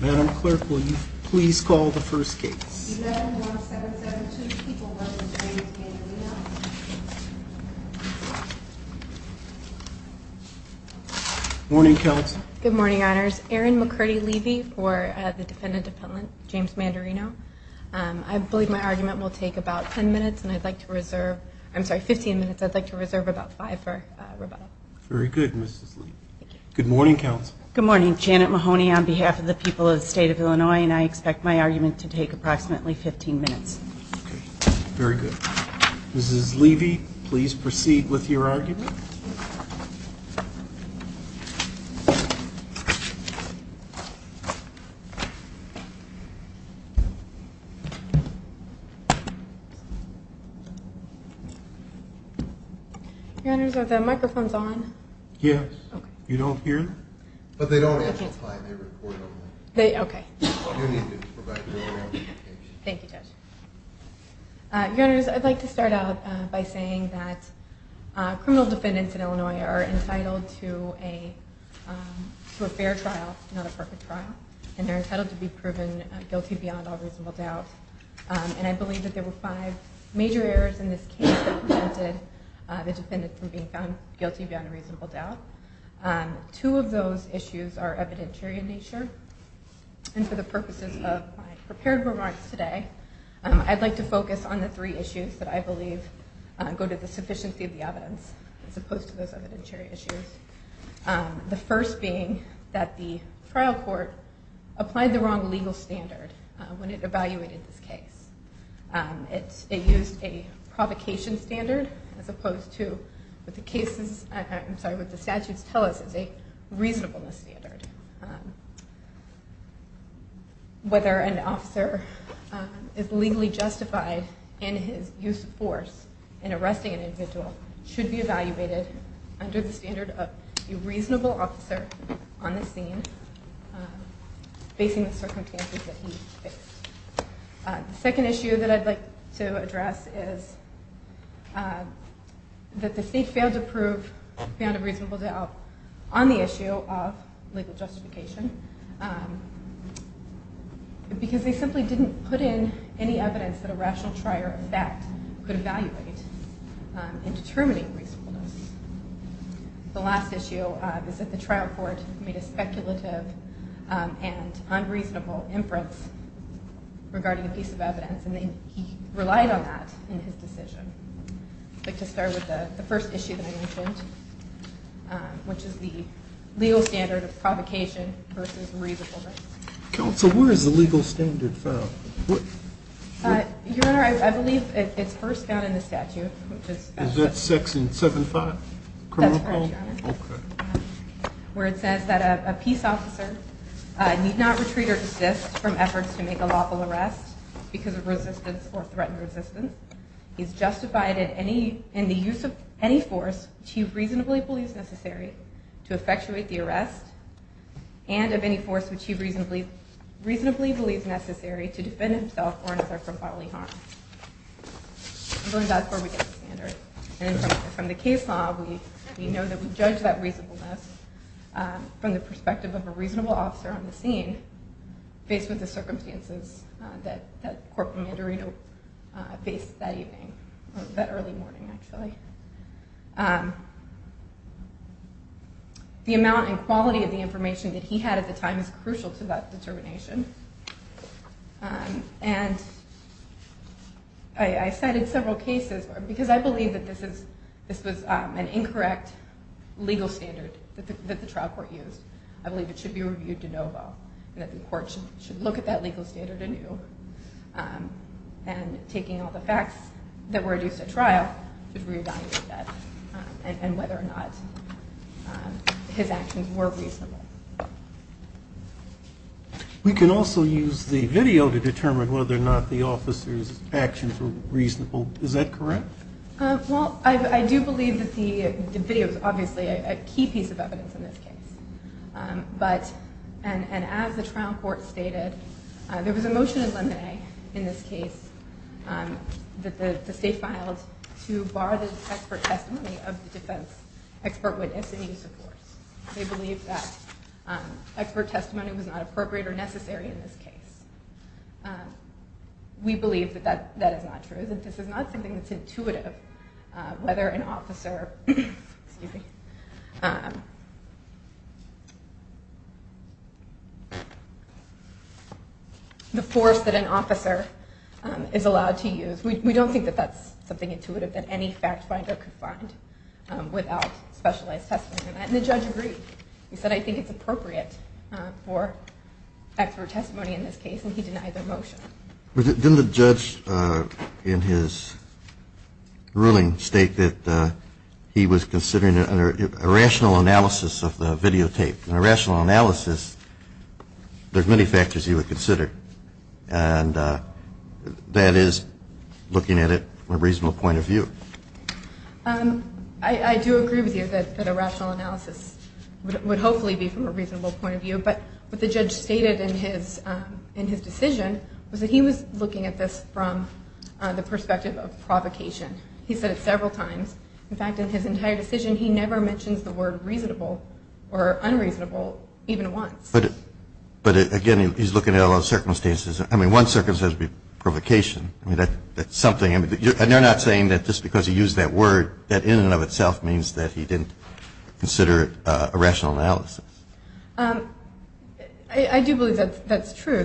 Madam Clerk, will you please call the first case? 111772, people representing James Mandarino. Morning, Counsel. Good morning, Honors. Erin McCurdy-Levy for the defendant, James Mandarino. I believe my argument will take about 10 minutes, and I'd like to reserve – I'm sorry, 15 minutes. I'd like to reserve about 5 for rebuttal. Very good, Mrs. Levy. Good morning, Counsel. Good morning, Janet Mahoney on behalf of the people of the state of Illinois, and I expect my argument to take approximately 15 minutes. Very good. Mrs. Levy, please proceed with your argument. Honors, are the microphones on? Yes. You don't hear them? But they don't answer on time. They report only. Okay. You need to provide your own application. Thank you, Judge. Honors, I'd like to start out by saying that criminal defendants in Illinois are entitled to a fair trial, not a perfect trial, and they're entitled to be proven guilty beyond all reasonable doubt. And I believe that there were five major errors in this case that prevented the defendant from being found guilty beyond reasonable doubt. Two of those issues are evidentiary in nature, and for the purposes of my prepared remarks today, I'd like to focus on the three issues that I believe go to the sufficiency of the evidence as opposed to those evidentiary issues, the first being that the trial court applied the wrong legal standard when it evaluated this case. It used a provocation standard as opposed to what the cases, I'm sorry, what the statutes tell us is a reasonableness standard. Whether an officer is legally justified in his use of force in arresting an individual should be evaluated under the standard of a reasonable officer on the scene facing the circumstances that he faced. The second issue that I'd like to address is that the state failed to prove beyond a reasonable doubt on the issue of legal justification because they simply didn't put in any evidence that a rational trial or fact could evaluate in determining reasonableness. The last issue is that the trial court made a speculative and unreasonable inference regarding a piece of evidence, and he relied on that in his decision. I'd like to start with the first issue that I mentioned, which is the legal standard of provocation versus reasonableness. Counsel, where is the legal standard found? Your Honor, I believe it's first found in the statute. Is that 6 and 75? That's correct, Your Honor. Okay. Where it says that a peace officer need not retreat or desist from efforts to make a lawful arrest because of resistance or threatened resistance. He's justified in the use of any force which he reasonably believes necessary to effectuate the arrest and of any force which he reasonably believes necessary to defend himself or another from bodily harm. So that's where we get the standard. And from the case law, we know that we judge that reasonableness from the perspective of a reasonable officer on the scene faced with the circumstances that Corporal Mandarino faced that evening, that early morning, actually. The amount and quality of the information that he had at the time is crucial to that determination. And I cited several cases because I believe that this was an incorrect legal standard that the trial court used. I believe it should be reviewed de novo and that the court should look at that legal standard anew and, taking all the facts that were adduced at trial, should re-evaluate that and whether or not his actions were reasonable. We can also use the video to determine whether or not the officer's actions were reasonable. Is that correct? Well, I do believe that the video is obviously a key piece of evidence in this case. And as the trial court stated, there was a motion in lemonade in this case that the state filed to bar the expert testimony of the defense expert witness in use of force. They believe that expert testimony was not appropriate or necessary in this case. We believe that that is not true, that this is not something that's intuitive, whether an officer, excuse me, the force that an officer is allowed to use. We don't think that that's something intuitive that any fact finder could find without specialized testimony. And the judge agreed. He said, I think it's appropriate for expert testimony in this case. And he denied the motion. Didn't the judge in his ruling state that he was considering a rational analysis of the videotape? In a rational analysis, there's many factors he would consider. I do agree with you that a rational analysis would hopefully be from a reasonable point of view. But what the judge stated in his decision was that he was looking at this from the perspective of provocation. He said it several times. In fact, in his entire decision, he never mentions the word reasonable or unreasonable even once. But again, he's looking at a lot of circumstances. I mean, one circumstance would be provocation. And you're not saying that just because he used that word, that in and of itself means that he didn't consider it a rational analysis. I do believe that's true.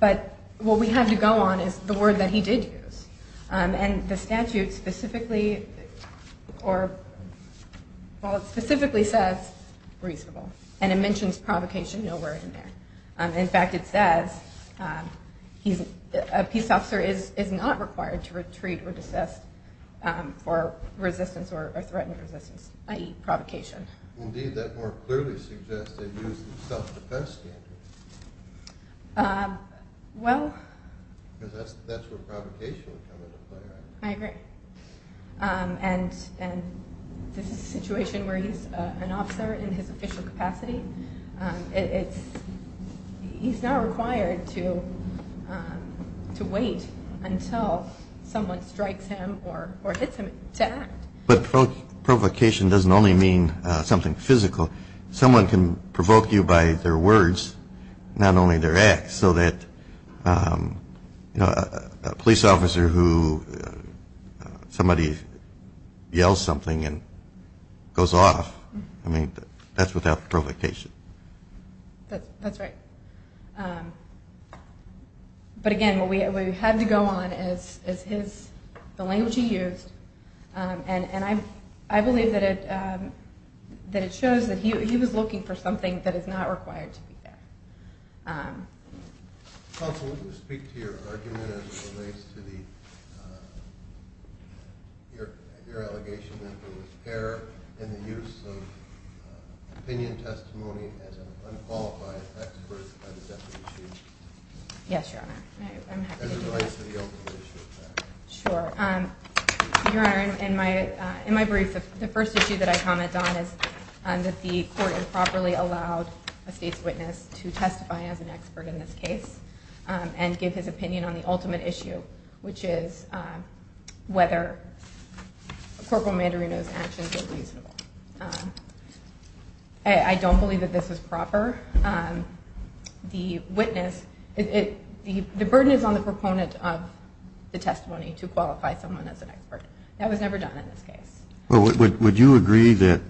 But what we have to go on is the word that he did use. And the statute specifically says reasonable. And it mentions provocation nowhere in there. In fact, it says a peace officer is not required to retreat or desist for resistance or threatening resistance, i.e. provocation. Indeed, that more clearly suggests that he used the self-defense standard. Because that's where provocation would come into play, right? I agree. And this is a situation where he's an officer in his official capacity. He's not required to wait until someone strikes him or hits him to act. But provocation doesn't only mean something physical. Someone can provoke you by their words, not only their acts. That's so that a police officer who somebody yells something and goes off, that's without provocation. That's right. But again, what we have to go on is the language he used. And I believe that it shows that he was looking for something that is not required to be there. Counsel, would you speak to your argument as it relates to your allegation that there was error in the use of opinion testimony as an unqualified expert by the deputy chief? Yes, Your Honor. I'm happy to do that. As it relates to the ultimate issue of fact. Sure. Your Honor, in my brief, the first issue that I commented on is that the court improperly allowed a state's witness to testify as an expert in this case and give his opinion on the ultimate issue, which is whether Corporal Mandarino's actions were reasonable. I don't believe that this is proper. The witness, the burden is on the proponent of the testimony to qualify someone as an expert. That was never done in this case. Well, would you agree that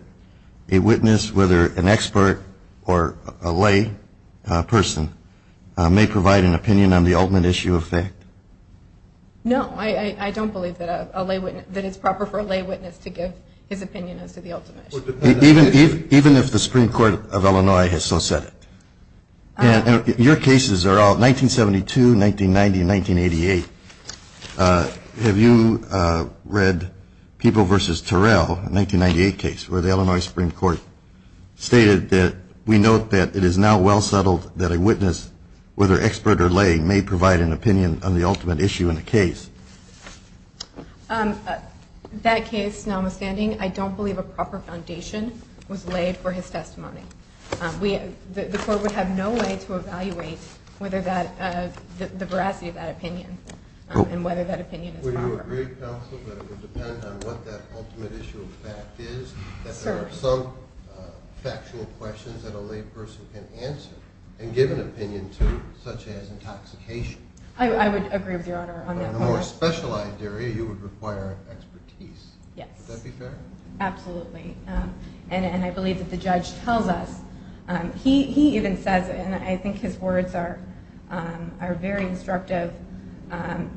a witness, whether an expert or a lay person, may provide an opinion on the ultimate issue of fact? No, I don't believe that it's proper for a lay witness to give his opinion as to the ultimate issue. Even if the Supreme Court of Illinois has so said it. Your cases are all 1972, 1990, 1988. Have you read People v. Terrell, a 1998 case where the Illinois Supreme Court stated that we note that it is now well settled that a witness, whether expert or lay, may provide an opinion on the ultimate issue in a case? That case, notwithstanding, I don't believe a proper foundation was laid for his testimony. The court would have no way to evaluate the veracity of that opinion and whether that opinion is proper. Would you agree, counsel, that it would depend on what that ultimate issue of fact is, that there are some factual questions that a lay person can answer and give an opinion to, such as intoxication? I would agree with Your Honor on that point. In a more specialized area, you would require expertise. Yes. Would that be fair? Absolutely. And I believe that the judge tells us, he even says, and I think his words are very instructive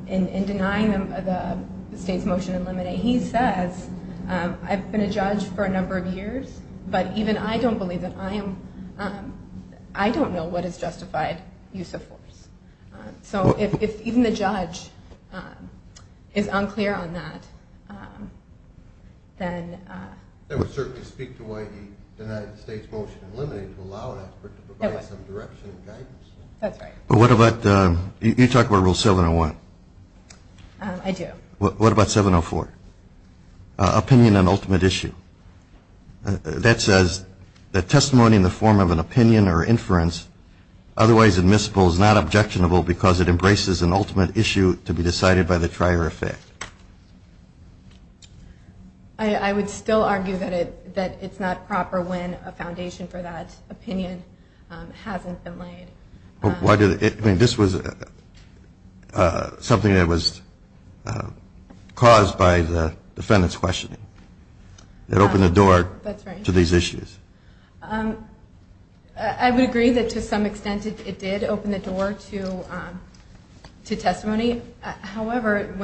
in denying the state's motion in limine. He says, I've been a judge for a number of years, but even I don't believe that I am, I don't know what is justified use of force. So if even the judge is unclear on that, then... That would certainly speak to why the United States motion in limine would allow an expert to provide some direction and guidance. That's right. But what about, you talk about Rule 701. I do. What about 704? Opinion on ultimate issue. That says that testimony in the form of an opinion or inference, otherwise admissible, is not objectionable because it embraces an ultimate issue to be decided by the trier of fact. I would still argue that it's not proper when a foundation for that opinion hasn't been laid. This was something that was caused by the defendant's questioning. It opened the door to these issues. I would agree that to some extent it did open the door to testimony. However,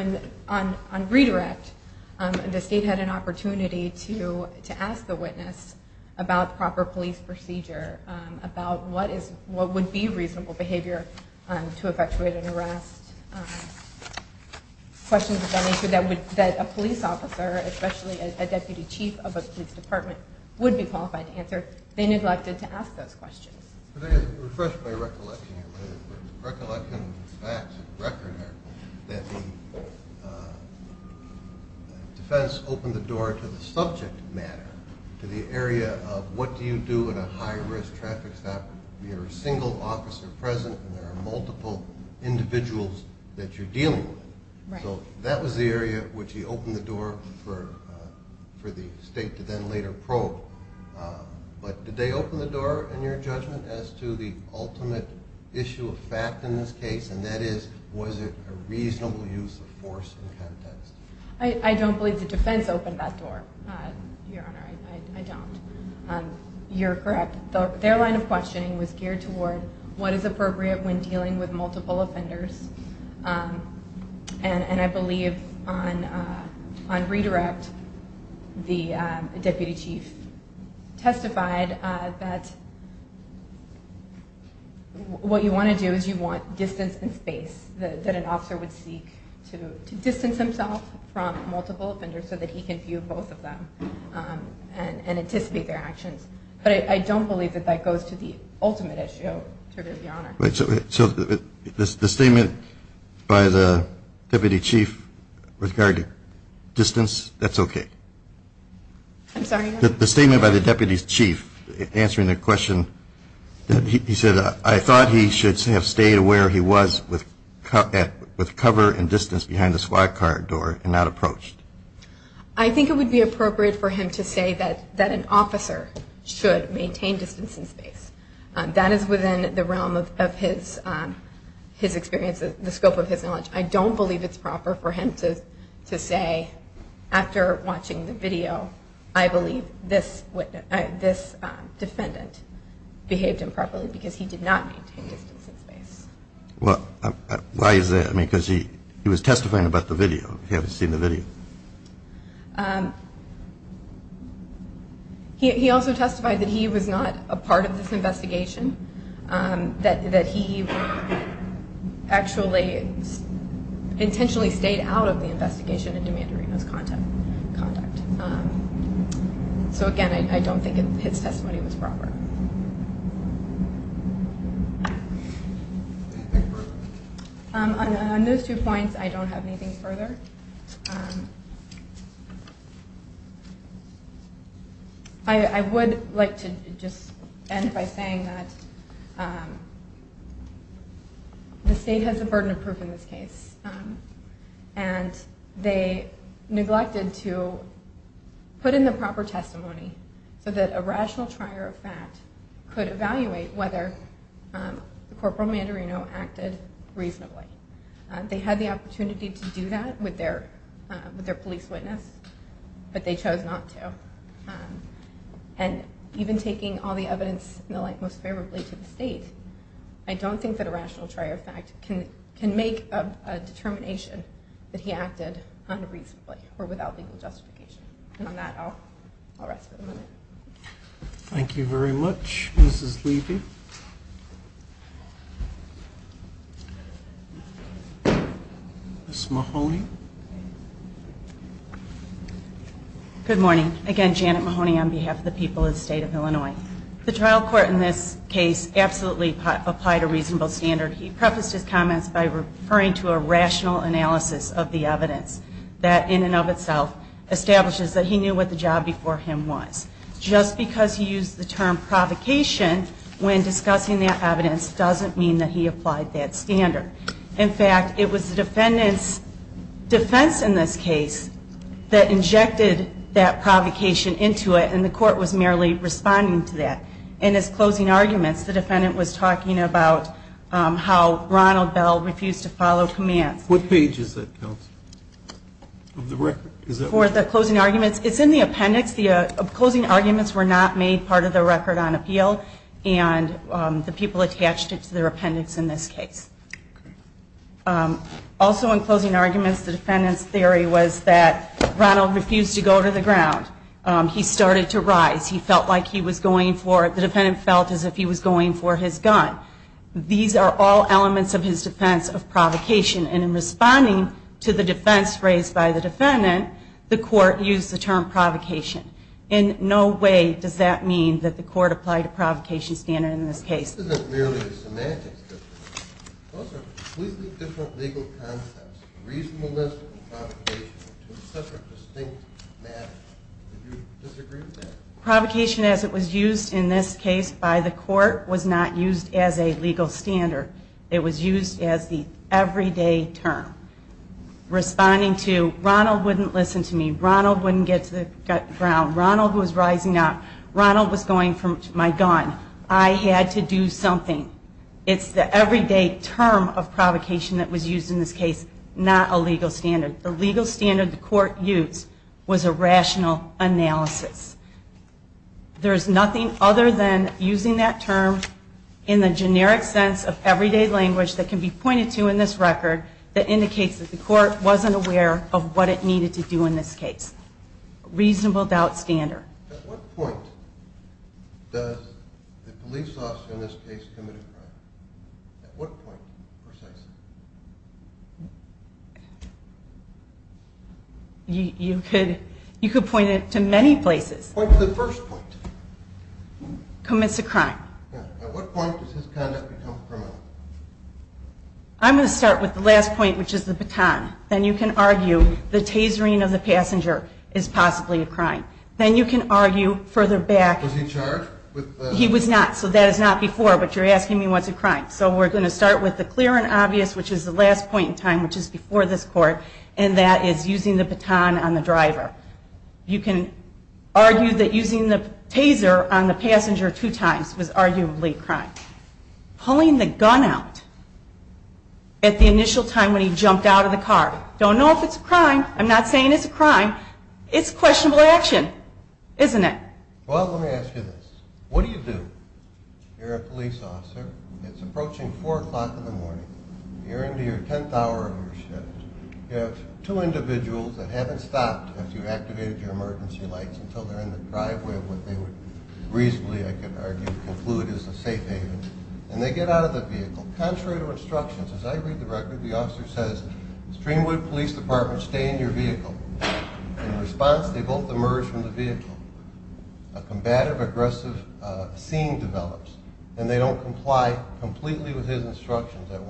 on redirect, the state had an opportunity to ask the witness about proper police procedure, about what would be reasonable behavior to effectuate an arrest, questions of that nature that a police officer, especially a deputy chief of a police department, would be qualified to answer. They neglected to ask those questions. Refresh my recollection here. My recollection of the facts of the record are that the defense opened the door to the subject matter, to the area of what do you do in a high-risk traffic stop. You're a single officer present and there are multiple individuals that you're dealing with. So that was the area which he opened the door for the state to then later probe. But did they open the door in your judgment as to the ultimate issue of fact in this case, and that is was it a reasonable use of force and context? I don't believe the defense opened that door, Your Honor. I don't. You're correct. Their line of questioning was geared toward what is appropriate when dealing with multiple offenders. And I believe on redirect, the deputy chief testified that what you want to do is you want distance and space, that an officer would seek to distance himself from multiple offenders so that he can view both of them and anticipate their actions. But I don't believe that that goes to the ultimate issue, Your Honor. So the statement by the deputy chief regarding distance, that's okay? I'm sorry? The statement by the deputy chief answering the question, he said, I thought he should have stayed where he was with cover and distance behind the squad car door and not approached. I think it would be appropriate for him to say that an officer should maintain distance and space. That is within the realm of his experience, the scope of his knowledge. I don't believe it's proper for him to say after watching the video, I believe this defendant behaved improperly because he did not maintain distance and space. Why is that? I mean, because he was testifying about the video. He hadn't seen the video. He also testified that he was not a part of this investigation, that he actually intentionally stayed out of the investigation and demanded Reno's conduct. So again, I don't think his testimony was proper. On those two points, I don't have anything further. I would like to just end by saying that the state has a burden of proof in this case, and they neglected to put in the proper testimony so that a rational trier of fact could evaluate whether Corporal Mandarino acted reasonably. They had the opportunity to do that with their police witness, but they chose not to. And even taking all the evidence and the like most favorably to the state, I don't think that a rational trier of fact can make a determination that he acted unreasonably or without legal justification. And on that, I'll rest for the moment. Thank you very much, Mrs. Levy. Ms. Mahoney. Good morning. Again, Janet Mahoney on behalf of the people of the state of Illinois. The trial court in this case absolutely applied a reasonable standard. He prefaced his comments by referring to a rational analysis of the evidence that, in and of itself, establishes that he knew what the job before him was. Just because he used the term provocation when discussing that evidence doesn't mean that he applied that standard. In fact, it was the defendant's defense in this case that injected that provocation into it, and the court was merely responding to that. In his closing arguments, the defendant was talking about how Ronald Bell refused to follow commands. What page is that, Kelsey, of the record? For the closing arguments? It's in the appendix. The closing arguments were not made part of the record on appeal, and the people attached it to their appendix in this case. Also in closing arguments, the defendant's theory was that Ronald refused to go to the ground. He started to rise. He felt like he was going for it. The defendant felt as if he was going for his gun. These are all elements of his defense of provocation, and in responding to the defense raised by the defendant, the court used the term provocation. In no way does that mean that the court applied a provocation standard in this case. This isn't merely a semantics difference. Those are completely different legal concepts. Reasonableness and provocation are two separate, distinct matters. Would you disagree with that? Provocation as it was used in this case by the court was not used as a legal standard. It was used as the everyday term. Responding to Ronald wouldn't listen to me, Ronald wouldn't get to the ground, Ronald was rising up, Ronald was going for my gun. I had to do something. It's the everyday term of provocation that was used in this case, not a legal standard. The legal standard the court used was a rational analysis. There is nothing other than using that term in the generic sense of everyday language that can be pointed to in this record that indicates that the court wasn't aware of what it needed to do in this case. Reasonable doubt standard. At what point does the police officer in this case commit a crime? At what point, precisely? You could point it to many places. Point to the first point. Commits a crime. At what point does his conduct become criminal? I'm going to start with the last point, which is the baton. Then you can argue the tasering of the passenger is possibly a crime. Then you can argue further back. Was he charged? He was not, so that is not before, but you're asking me what's a crime. So we're going to start with the clear and obvious, which is the last point in time, which is before this court, and that is using the baton on the driver. You can argue that using the taser on the passenger two times was arguably a crime. Pulling the gun out at the initial time when he jumped out of the car. Don't know if it's a crime. I'm not saying it's a crime. It's questionable action, isn't it? Well, let me ask you this. What do you do? You're a police officer. It's approaching 4 o'clock in the morning. You're into your 10th hour of your shift. You have two individuals that haven't stopped after you've activated your emergency lights until they're in the driveway of what they would reasonably, I could argue, conclude as a safe haven, and they get out of the vehicle. Contrary to instructions, as I read the record, the officer says, Streamwood Police Department, stay in your vehicle. In response, they both emerge from the vehicle. A combative, aggressive scene develops, and they don't comply completely with his instructions. At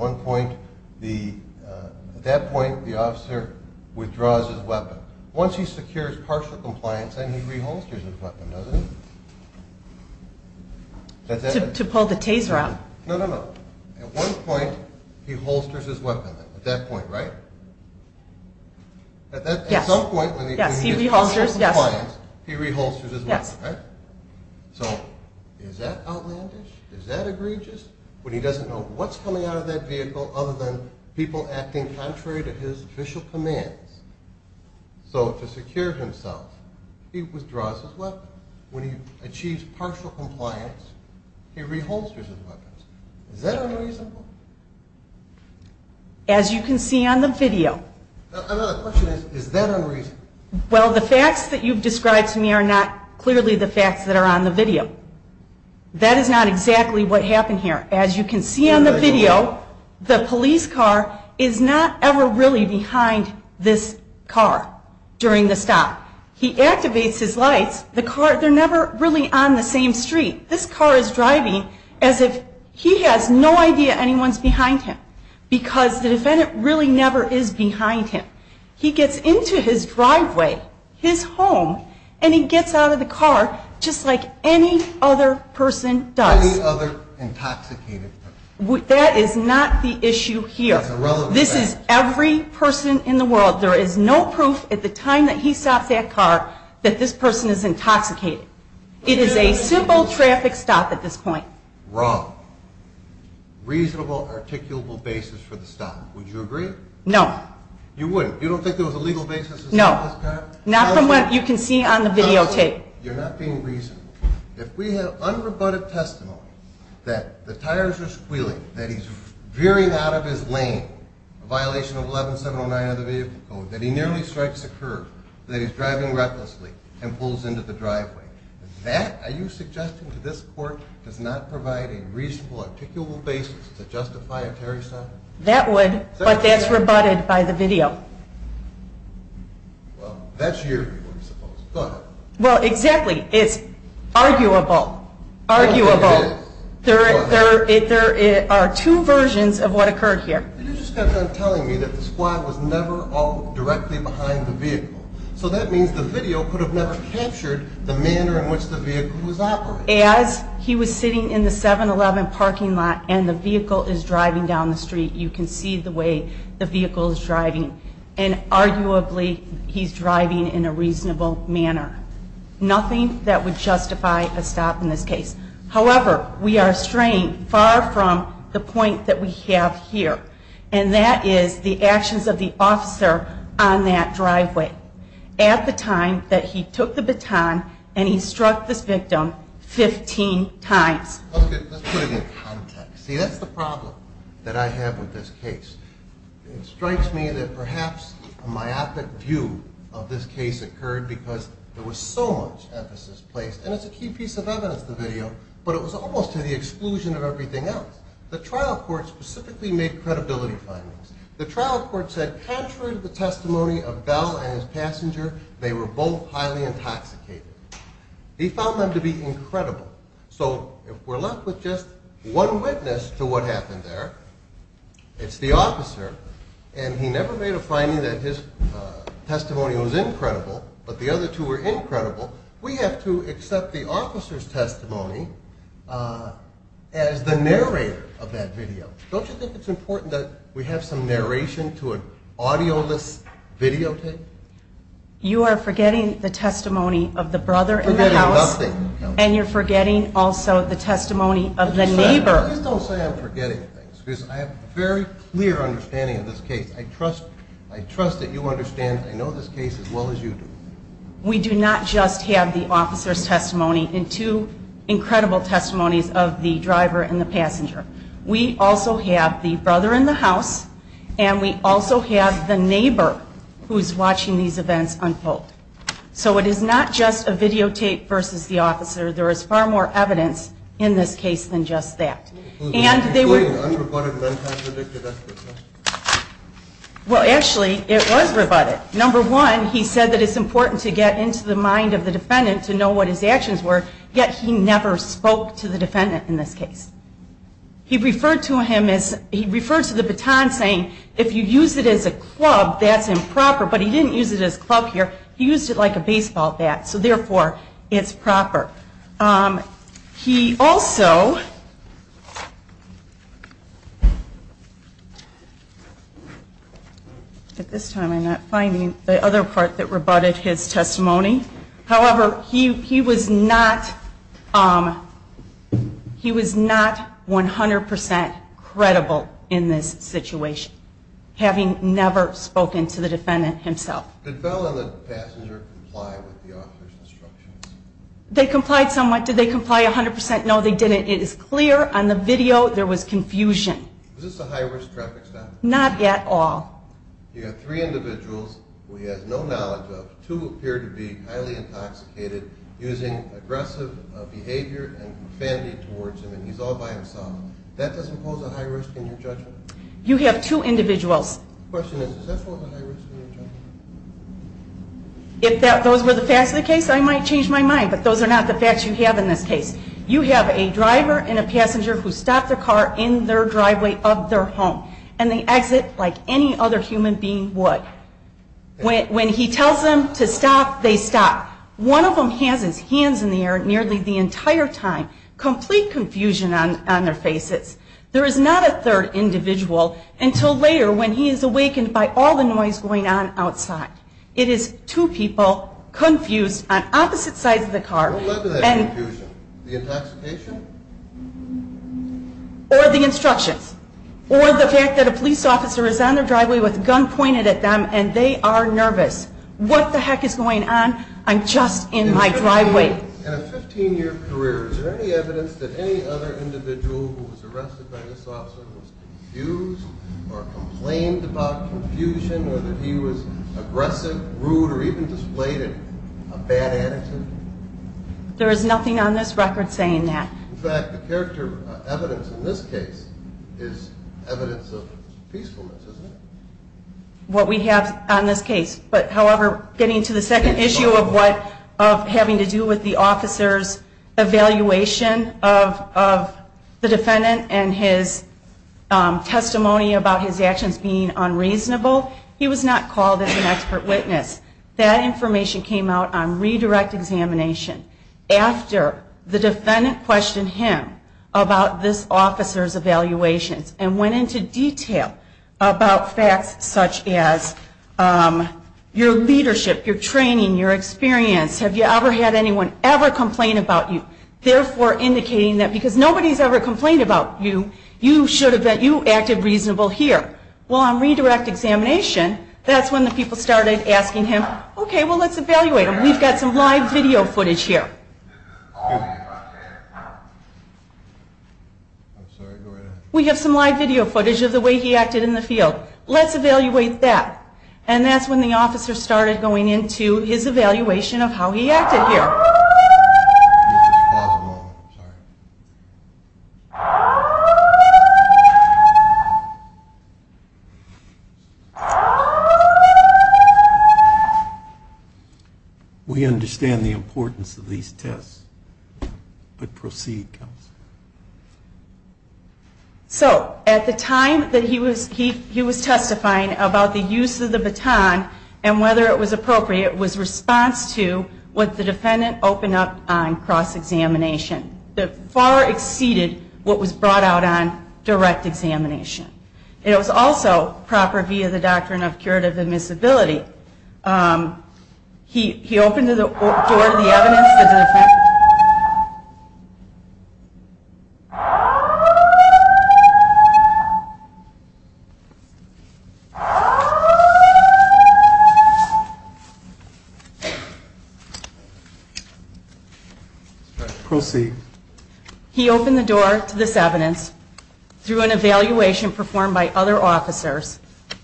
that point, the officer withdraws his weapon. Once he secures partial compliance, then he reholsters his weapon, doesn't he? To pull the taser out. No, no, no. At one point, he holsters his weapon, at that point, right? At some point, when he achieves partial compliance, he reholsters his weapon, right? So is that outlandish? Is that egregious? When he doesn't know what's coming out of that vehicle other than people acting contrary to his official commands, so to secure himself, he withdraws his weapon. Is that unreasonable? As you can see on the video. Another question is, is that unreasonable? Well, the facts that you've described to me are not clearly the facts that are on the video. That is not exactly what happened here. As you can see on the video, the police car is not ever really behind this car during the stop. He activates his lights. The car, they're never really on the same street. This car is driving as if he has no idea anyone's behind him because the defendant really never is behind him. He gets into his driveway, his home, and he gets out of the car just like any other person does. Any other intoxicated person. That is not the issue here. It's a relevant fact. This is every person in the world. There is no proof at the time that he stops that car that this person is intoxicated. It is a simple traffic stop at this point. Wrong. Reasonable, articulable basis for the stop. Would you agree? No. You wouldn't? You don't think there was a legal basis to stop this car? No. Not from what you can see on the videotape. You're not being reasonable. If we have unrebutted testimony that the tires are squealing, that he's veering out of his lane, a violation of 11709 of the vehicle code, that he nearly strikes a curb, that he's driving recklessly and pulls into the driveway, that, are you suggesting to this court, does not provide a reasonable, articulable basis to justify a Terry stop? That would, but that's rebutted by the video. Well, that's your view, I suppose. Go ahead. Well, exactly. It's arguable. Arguable. There are two versions of what occurred here. You just kept on telling me that the squad was never all directly behind the vehicle. So that means the video could have never captured the manner in which the vehicle was operating. As he was sitting in the 711 parking lot and the vehicle is driving down the street, you can see the way the vehicle is driving. And arguably, he's driving in a reasonable manner. Nothing that would justify a stop in this case. However, we are straying far from the point that we have here, and that is the actions of the officer on that driveway at the time that he took the baton and he struck this victim 15 times. Okay, let's put it in context. See, that's the problem that I have with this case. It strikes me that perhaps a myopic view of this case occurred because there was so much emphasis placed, and it's a key piece of evidence, the video, but it was almost to the exclusion of everything else. The trial court specifically made credibility findings. The trial court said contrary to the testimony of Bell and his passenger, they were both highly intoxicated. He found them to be incredible. So if we're left with just one witness to what happened there, it's the officer, and he never made a finding that his testimony was incredible, but the other two were incredible, we have to accept the officer's testimony as the narrator of that video. Don't you think it's important that we have some narration to an audio-less videotape? You are forgetting the testimony of the brother in the house. I'm forgetting nothing. And you're forgetting also the testimony of the neighbor. Please don't say I'm forgetting things because I have a very clear understanding of this case. I trust that you understand and know this case as well as you do. We do not just have the officer's testimony and two incredible testimonies of the driver and the passenger. We also have the brother in the house, and we also have the neighbor who's watching these events unfold. So it is not just a videotape versus the officer. There is far more evidence in this case than just that. And they were unreported. Well, actually, it was rebutted. Number one, he said that it's important to get into the mind of the defendant to know what his actions were, yet he never spoke to the defendant in this case. He referred to the baton saying, if you use it as a club, that's improper, but he didn't use it as a club here. He used it like a baseball bat, so therefore it's proper. He also, at this time I'm not finding the other part that rebutted his testimony. However, he was not 100% credible in this situation, having never spoken to the defendant himself. Did Bell and the passenger comply with the officer's instructions? They complied somewhat. Did they comply 100%? No, they didn't. It is clear on the video there was confusion. Was this a high-risk traffic stop? Not at all. You have three individuals who he has no knowledge of. Two appear to be highly intoxicated, using aggressive behavior and fanning towards him, and he's all by himself. That doesn't pose a high risk in your judgment? You have two individuals. The question is, does that pose a high risk in your judgment? If those were the facts of the case, I might change my mind, but those are not the facts you have in this case. You have a driver and a passenger who stop their car in their driveway of their home, and they exit like any other human being would. When he tells them to stop, they stop. One of them has his hands in the air nearly the entire time, complete confusion on their faces. There is not a third individual until later when he is awakened by all the noise going on outside. It is two people confused on opposite sides of the car. What led to that confusion? The intoxication? Or the instructions. Or the fact that a police officer is on their driveway with a gun pointed at them, and they are nervous. What the heck is going on? I'm just in my driveway. In a 15-year career, is there any evidence that any other individual who was arrested by this officer was confused or complained about confusion, or that he was aggressive, rude, or even displayed a bad attitude? There is nothing on this record saying that. In fact, the character evidence in this case is evidence of peacefulness, isn't it? What we have on this case. However, getting to the second issue of having to do with the officer's evaluation of the defendant and his testimony about his actions being unreasonable, he was not called as an expert witness. That information came out on redirect examination after the defendant questioned him about this officer's evaluations and went into detail about facts such as your leadership, your training, your experience. Have you ever had anyone ever complain about you? Therefore, indicating that because nobody's ever complained about you, you should have been, you acted reasonable here. Well, on redirect examination, that's when the people started asking him, okay, well let's evaluate him. We've got some live video footage here. We have some live video footage of the way he acted in the field. Let's evaluate that. And that's when the officer started going into his evaluation of how he acted here. We understand the importance of these tests, but proceed, counsel. So at the time that he was testifying about the use of the baton and whether it was appropriate was response to what the defendant opened up on cross-examination that far exceeded what was brought out on direct examination. It was also proper via the doctrine of curative admissibility. He opened the door to the evidence. He opened the door to this evidence through an evaluation performed by other officers. Can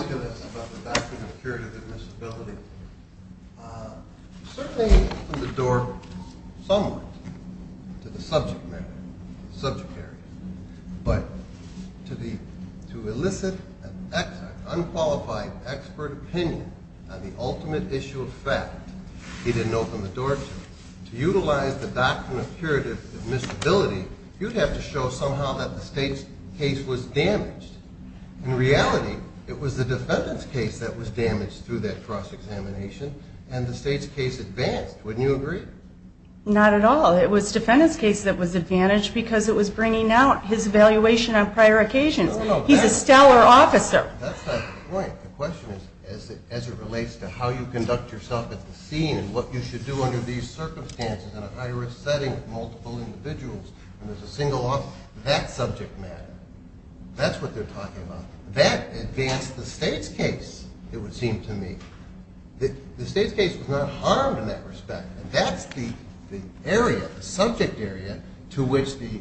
you tell us about the doctrine of curative admissibility? Certainly he opened the door somewhat to the subject matter, subject area, but to elicit an unqualified expert opinion on the ultimate issue of fact, he didn't open the door to it. To utilize the doctrine of curative admissibility, you'd have to show somehow that the state's case was damaged. In reality, it was the defendant's case that was damaged through that cross-examination and the state's case advanced. Wouldn't you agree? Not at all. It was the defendant's case that was advantaged because it was bringing out his evaluation on prior occasions. He's a stellar officer. That's not the point. The question is as it relates to how you conduct yourself at the scene and what you should do under these circumstances in a high-risk setting with multiple individuals, when there's a single officer, that subject matter. That's what they're talking about. That advanced the state's case, it would seem to me. The state's case was not harmed in that respect, and that's the area, the subject area, to which the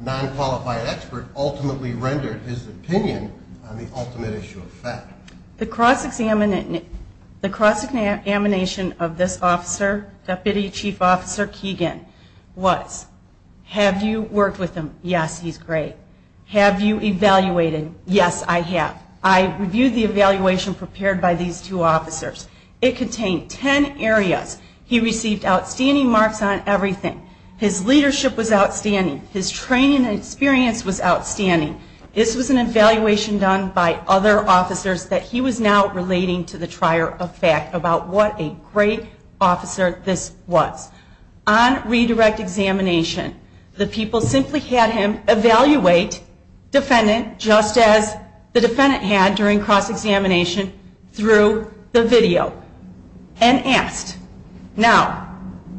non-qualified expert ultimately rendered his opinion on the ultimate issue of fact. The cross-examination of this officer, Deputy Chief Officer Keegan, was, have you worked with him? Yes, he's great. Have you evaluated? Yes, I have. I reviewed the evaluation prepared by these two officers. It contained ten areas. He received outstanding marks on everything. His leadership was outstanding. His training and experience was outstanding. This was an evaluation done by other officers that he was now relating to the trier of fact about what a great officer this was. On redirect examination, the people simply had him evaluate defendant just as the defendant had during cross-examination through the video and asked, now,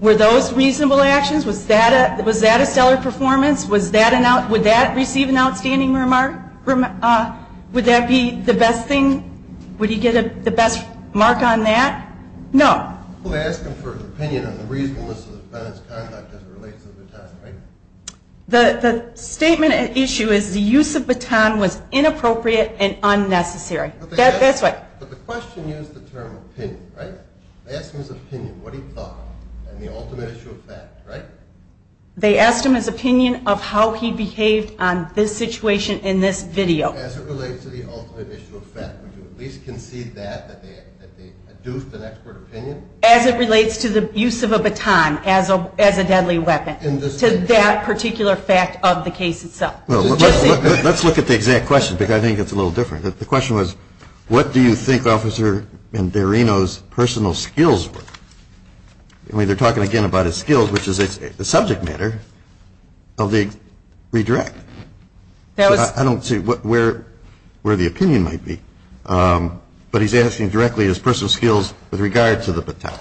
were those reasonable actions? Was that a stellar performance? Would that receive an outstanding remark? Would that be the best thing? Would he get the best mark on that? No. Who asked him for an opinion on the reasonableness of the defendant's conduct as it relates to the baton? The statement at issue is the use of baton was inappropriate and unnecessary. That's what. But the question used the term opinion, right? They asked him his opinion, what he thought, and the ultimate issue of fact, right? They asked him his opinion of how he behaved on this situation in this video. As it relates to the ultimate issue of fact, would you at least concede that, that they adduced an expert opinion? As it relates to the use of a baton as a deadly weapon, to that particular fact of the case itself. Let's look at the exact question because I think it's a little different. The question was, what do you think Officer Anderino's personal skills were? They're talking again about his skills, which is a subject matter of the redirect. I don't see where the opinion might be. But he's asking directly his personal skills with regard to the baton.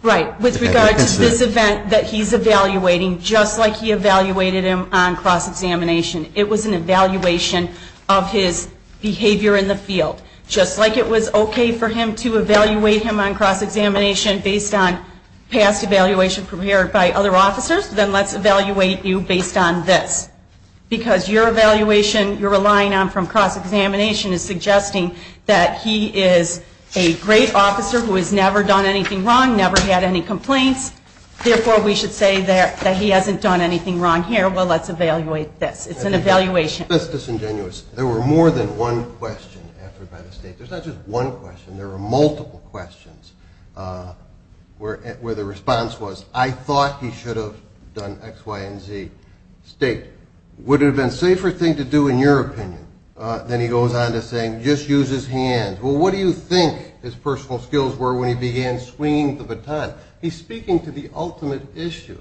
Right, with regard to this event that he's evaluating, just like he evaluated him on cross-examination. It was an evaluation of his behavior in the field. Just like it was okay for him to evaluate him on cross-examination based on past evaluation prepared by other officers, then let's evaluate you based on this. Because your evaluation you're relying on from cross-examination is suggesting that he is a great officer who has never done anything wrong, never had any complaints. Therefore, we should say that he hasn't done anything wrong here. Well, let's evaluate this. It's an evaluation. That's disingenuous. There were more than one question. There's not just one question. There were multiple questions where the response was, I thought he should have done X, Y, and Z. State, would it have been a safer thing to do in your opinion? Then he goes on to say, just use his hands. Well, what do you think his personal skills were when he began swinging the baton? He's speaking to the ultimate issue,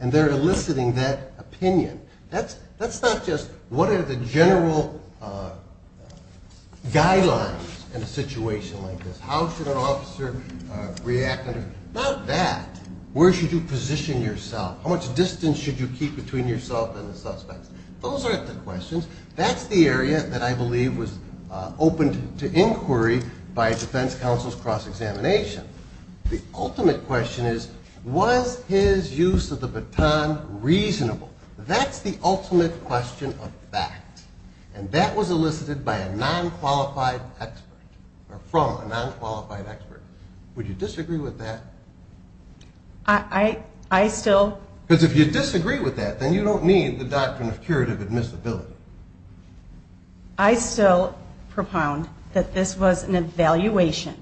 and they're eliciting that opinion. That's not just what are the general guidelines in a situation like this. How should an officer react? Not that. Where should you position yourself? How much distance should you keep between yourself and the suspect? Those aren't the questions. That's the area that I believe was open to inquiry by a defense counsel's cross-examination. The ultimate question is, was his use of the baton reasonable? That's the ultimate question of fact, and that was elicited by a non-qualified expert or from a non-qualified expert. Would you disagree with that? I still... Because if you disagree with that, then you don't need the doctrine of curative admissibility. I still propound that this was an evaluation,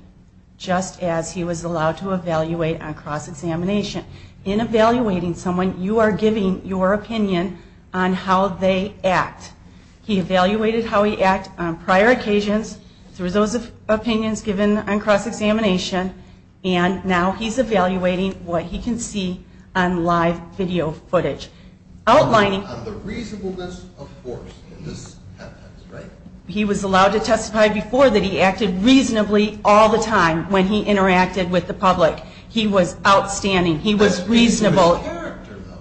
just as he was allowed to evaluate on cross-examination. In evaluating someone, you are giving your opinion on how they act. He evaluated how he acted on prior occasions through those opinions given on cross-examination, and now he's evaluating what he can see on live video footage. On the reasonableness of force in this context, right? He was allowed to testify before that he acted reasonably all the time when he interacted with the public. He was outstanding. He was reasonable.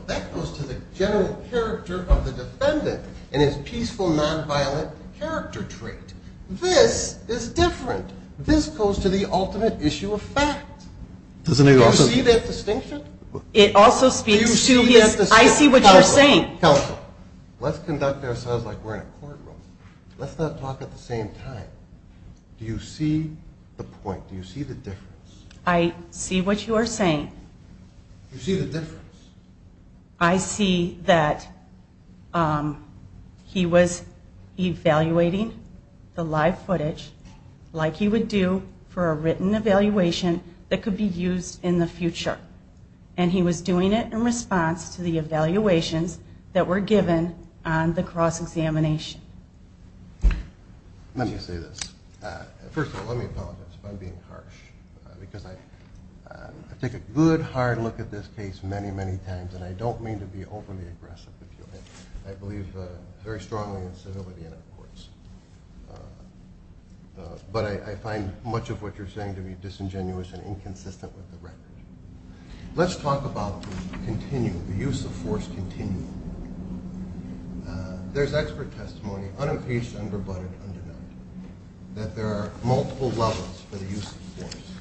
That goes to the general character of the defendant and his peaceful, non-violent character trait. This is different. This goes to the ultimate issue of fact. Do you see that distinction? It also speaks to his... I see what you're saying. Counsel, let's conduct ourselves like we're in a courtroom. Let's not talk at the same time. Do you see the point? Do you see the difference? I see what you are saying. Do you see the difference? I see that he was evaluating the live footage like he would do for a written evaluation that could be used in the future, and he was doing it in response to the evaluations that were given on the cross-examination. Let me say this. First of all, let me apologize if I'm being harsh because I take a good, hard look at this case many, many times, and I don't mean to be overly aggressive, if you will. I believe very strongly in civility in our courts. But I find much of what you're saying to be disingenuous and inconsistent with the record. Let's talk about the continue, the use of force continue. There's expert testimony, unencased, under-butted, undenied, that there are multiple levels for the use of force.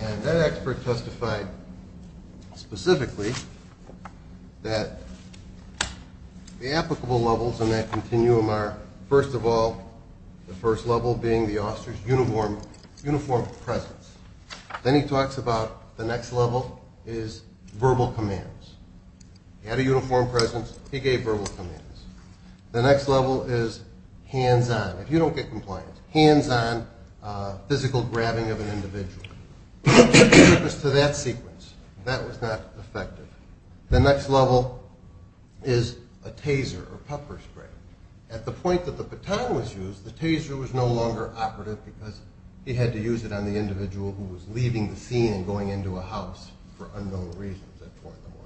And that expert testified specifically that the applicable levels in that continuum are, first of all, the first level being the officer's uniform presence. Then he talks about the next level is verbal commands. He had a uniform presence. He gave verbal commands. The next level is hands-on. If you don't get compliance, hands-on physical grabbing of an individual. It was to that sequence. That was not effective. The next level is a taser or puffer spray. At the point that the baton was used, the taser was no longer operative because he had to use it on the individual who was leaving the scene and going into a house for unknown reasons at 4 in the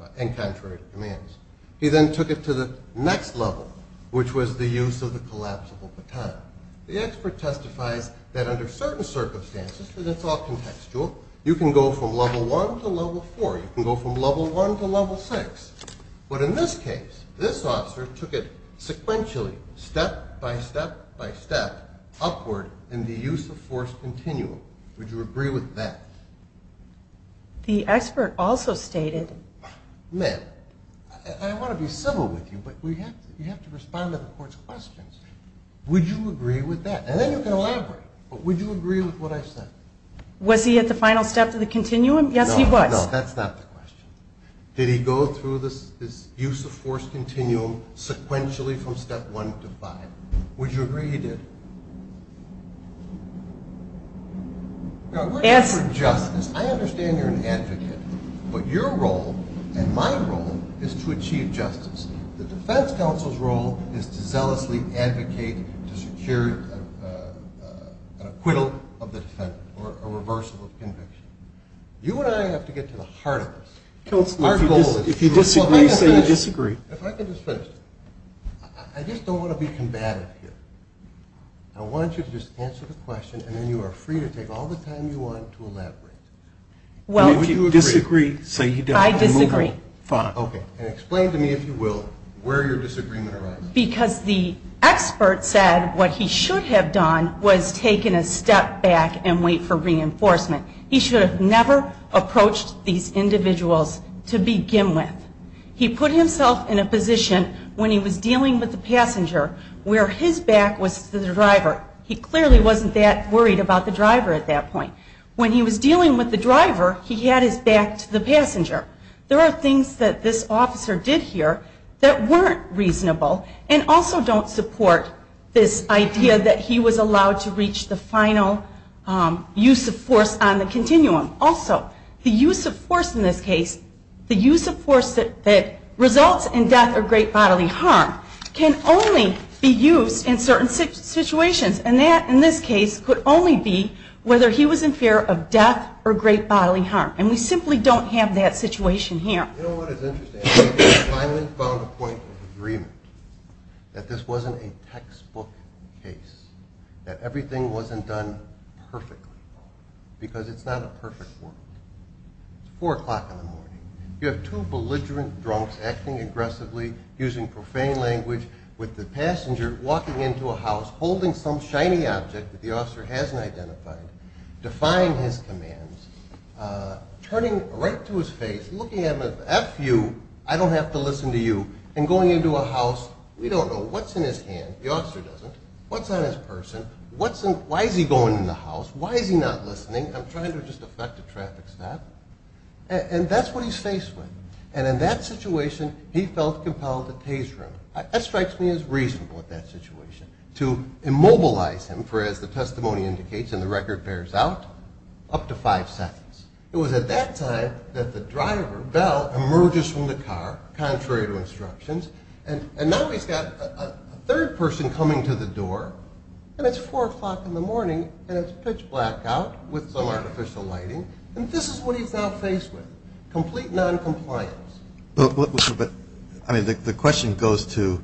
morning and contrary to commands. He then took it to the next level, which was the use of the collapsible baton. The expert testifies that under certain circumstances, and it's all contextual, you can go from level 1 to level 4. You can go from level 1 to level 6. But in this case, this officer took it sequentially, step by step by step, upward in the use of force continuum. Would you agree with that? The expert also stated... Ma'am, I want to be civil with you, but you have to respond to the court's questions. Would you agree with that? And then you can elaborate, but would you agree with what I said? Was he at the final step of the continuum? Yes, he was. No, no, that's not the question. Did he go through this use of force continuum sequentially from step 1 to 5? Would you agree he did? As for justice, I understand you're an advocate, but your role and my role is to achieve justice. The defense counsel's role is to zealously advocate to secure an acquittal of the defendant, or a reversal of conviction. You and I have to get to the heart of this. Counsel, if you disagree, say you disagree. If I could just finish. I just don't want to be combative here. I want you to just answer the question, and then you are free to take all the time you want to elaborate. If you disagree, say you disagree. I disagree. Fine. Explain to me, if you will, where your disagreement arises. Because the expert said what he should have done was taken a step back and wait for reinforcement. He should have never approached these individuals to begin with. He put himself in a position when he was dealing with the passenger where his back was to the driver. He clearly wasn't that worried about the driver at that point. When he was dealing with the driver, he had his back to the passenger. There are things that this officer did here that weren't reasonable and also don't support this idea that he was allowed to reach the final use of force on the continuum. Also, the use of force in this case, the use of force that results in death or great bodily harm, can only be used in certain situations. And that, in this case, could only be whether he was in fear of death or great bodily harm. And we simply don't have that situation here. You know what is interesting? We finally found a point of agreement that this wasn't a textbook case. That everything wasn't done perfectly. Because it's not a perfect world. It's 4 o'clock in the morning. You have two belligerent drunks acting aggressively, using profane language, with the passenger walking into a house, holding some shiny object that the officer hasn't identified, defying his commands, turning right to his face, looking at him as, F you, I don't have to listen to you, and going into a house. We don't know what's in his hand. The officer doesn't. What's on his person? Why is he going in the house? Why is he not listening? I'm trying to just effect a traffic stop. And that's what he's faced with. And in that situation, he felt compelled to tase him. That strikes me as reasonable, that situation. To immobilize him, for as the testimony indicates, and the record bears out, up to five seconds. It was at that time that the driver, Bell, emerges from the car, contrary to instructions, and now he's got a third person coming to the door, and it's 4 o'clock in the morning, and it's pitch black out with some artificial lighting, and this is what he's now faced with. Complete noncompliance. But, I mean, the question goes to.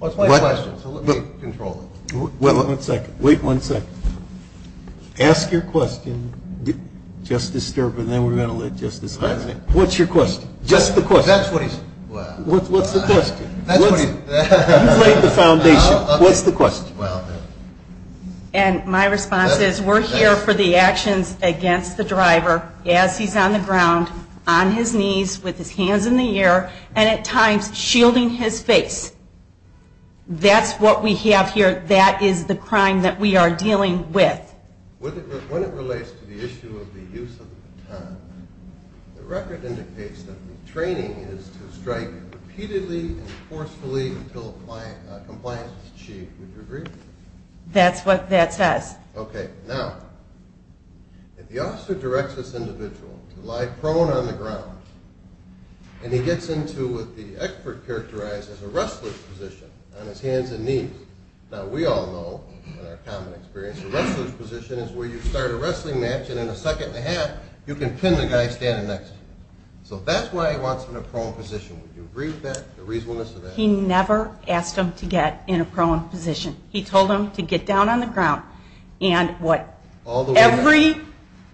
That's my question, so let me control it. Wait one second. Wait one second. Ask your question. Just disturb, and then we're going to let Justice Hines in. What's your question? Just the question. That's what he said. What's the question? That's what he said. You've laid the foundation. What's the question? And my response is we're here for the actions against the driver as he's on the ground, on his knees with his hands in the air, and at times shielding his face. That's what we have here. That is the crime that we are dealing with. When it relates to the issue of the use of the baton, the record indicates that the training is to strike repeatedly and forcefully until compliance is achieved. Would you agree? That's what that says. Okay. Now, if the officer directs this individual to lie prone on the ground and he gets into what the expert characterized as a wrestler's position on his hands and knees. Now, we all know from our common experience, a wrestler's position is where you start a wrestling match, and in a second and a half you can pin the guy standing next to you. So that's why he wants him in a prone position. Would you agree to that, the reasonableness of that? He never asked him to get in a prone position. He told him to get down on the ground, and what every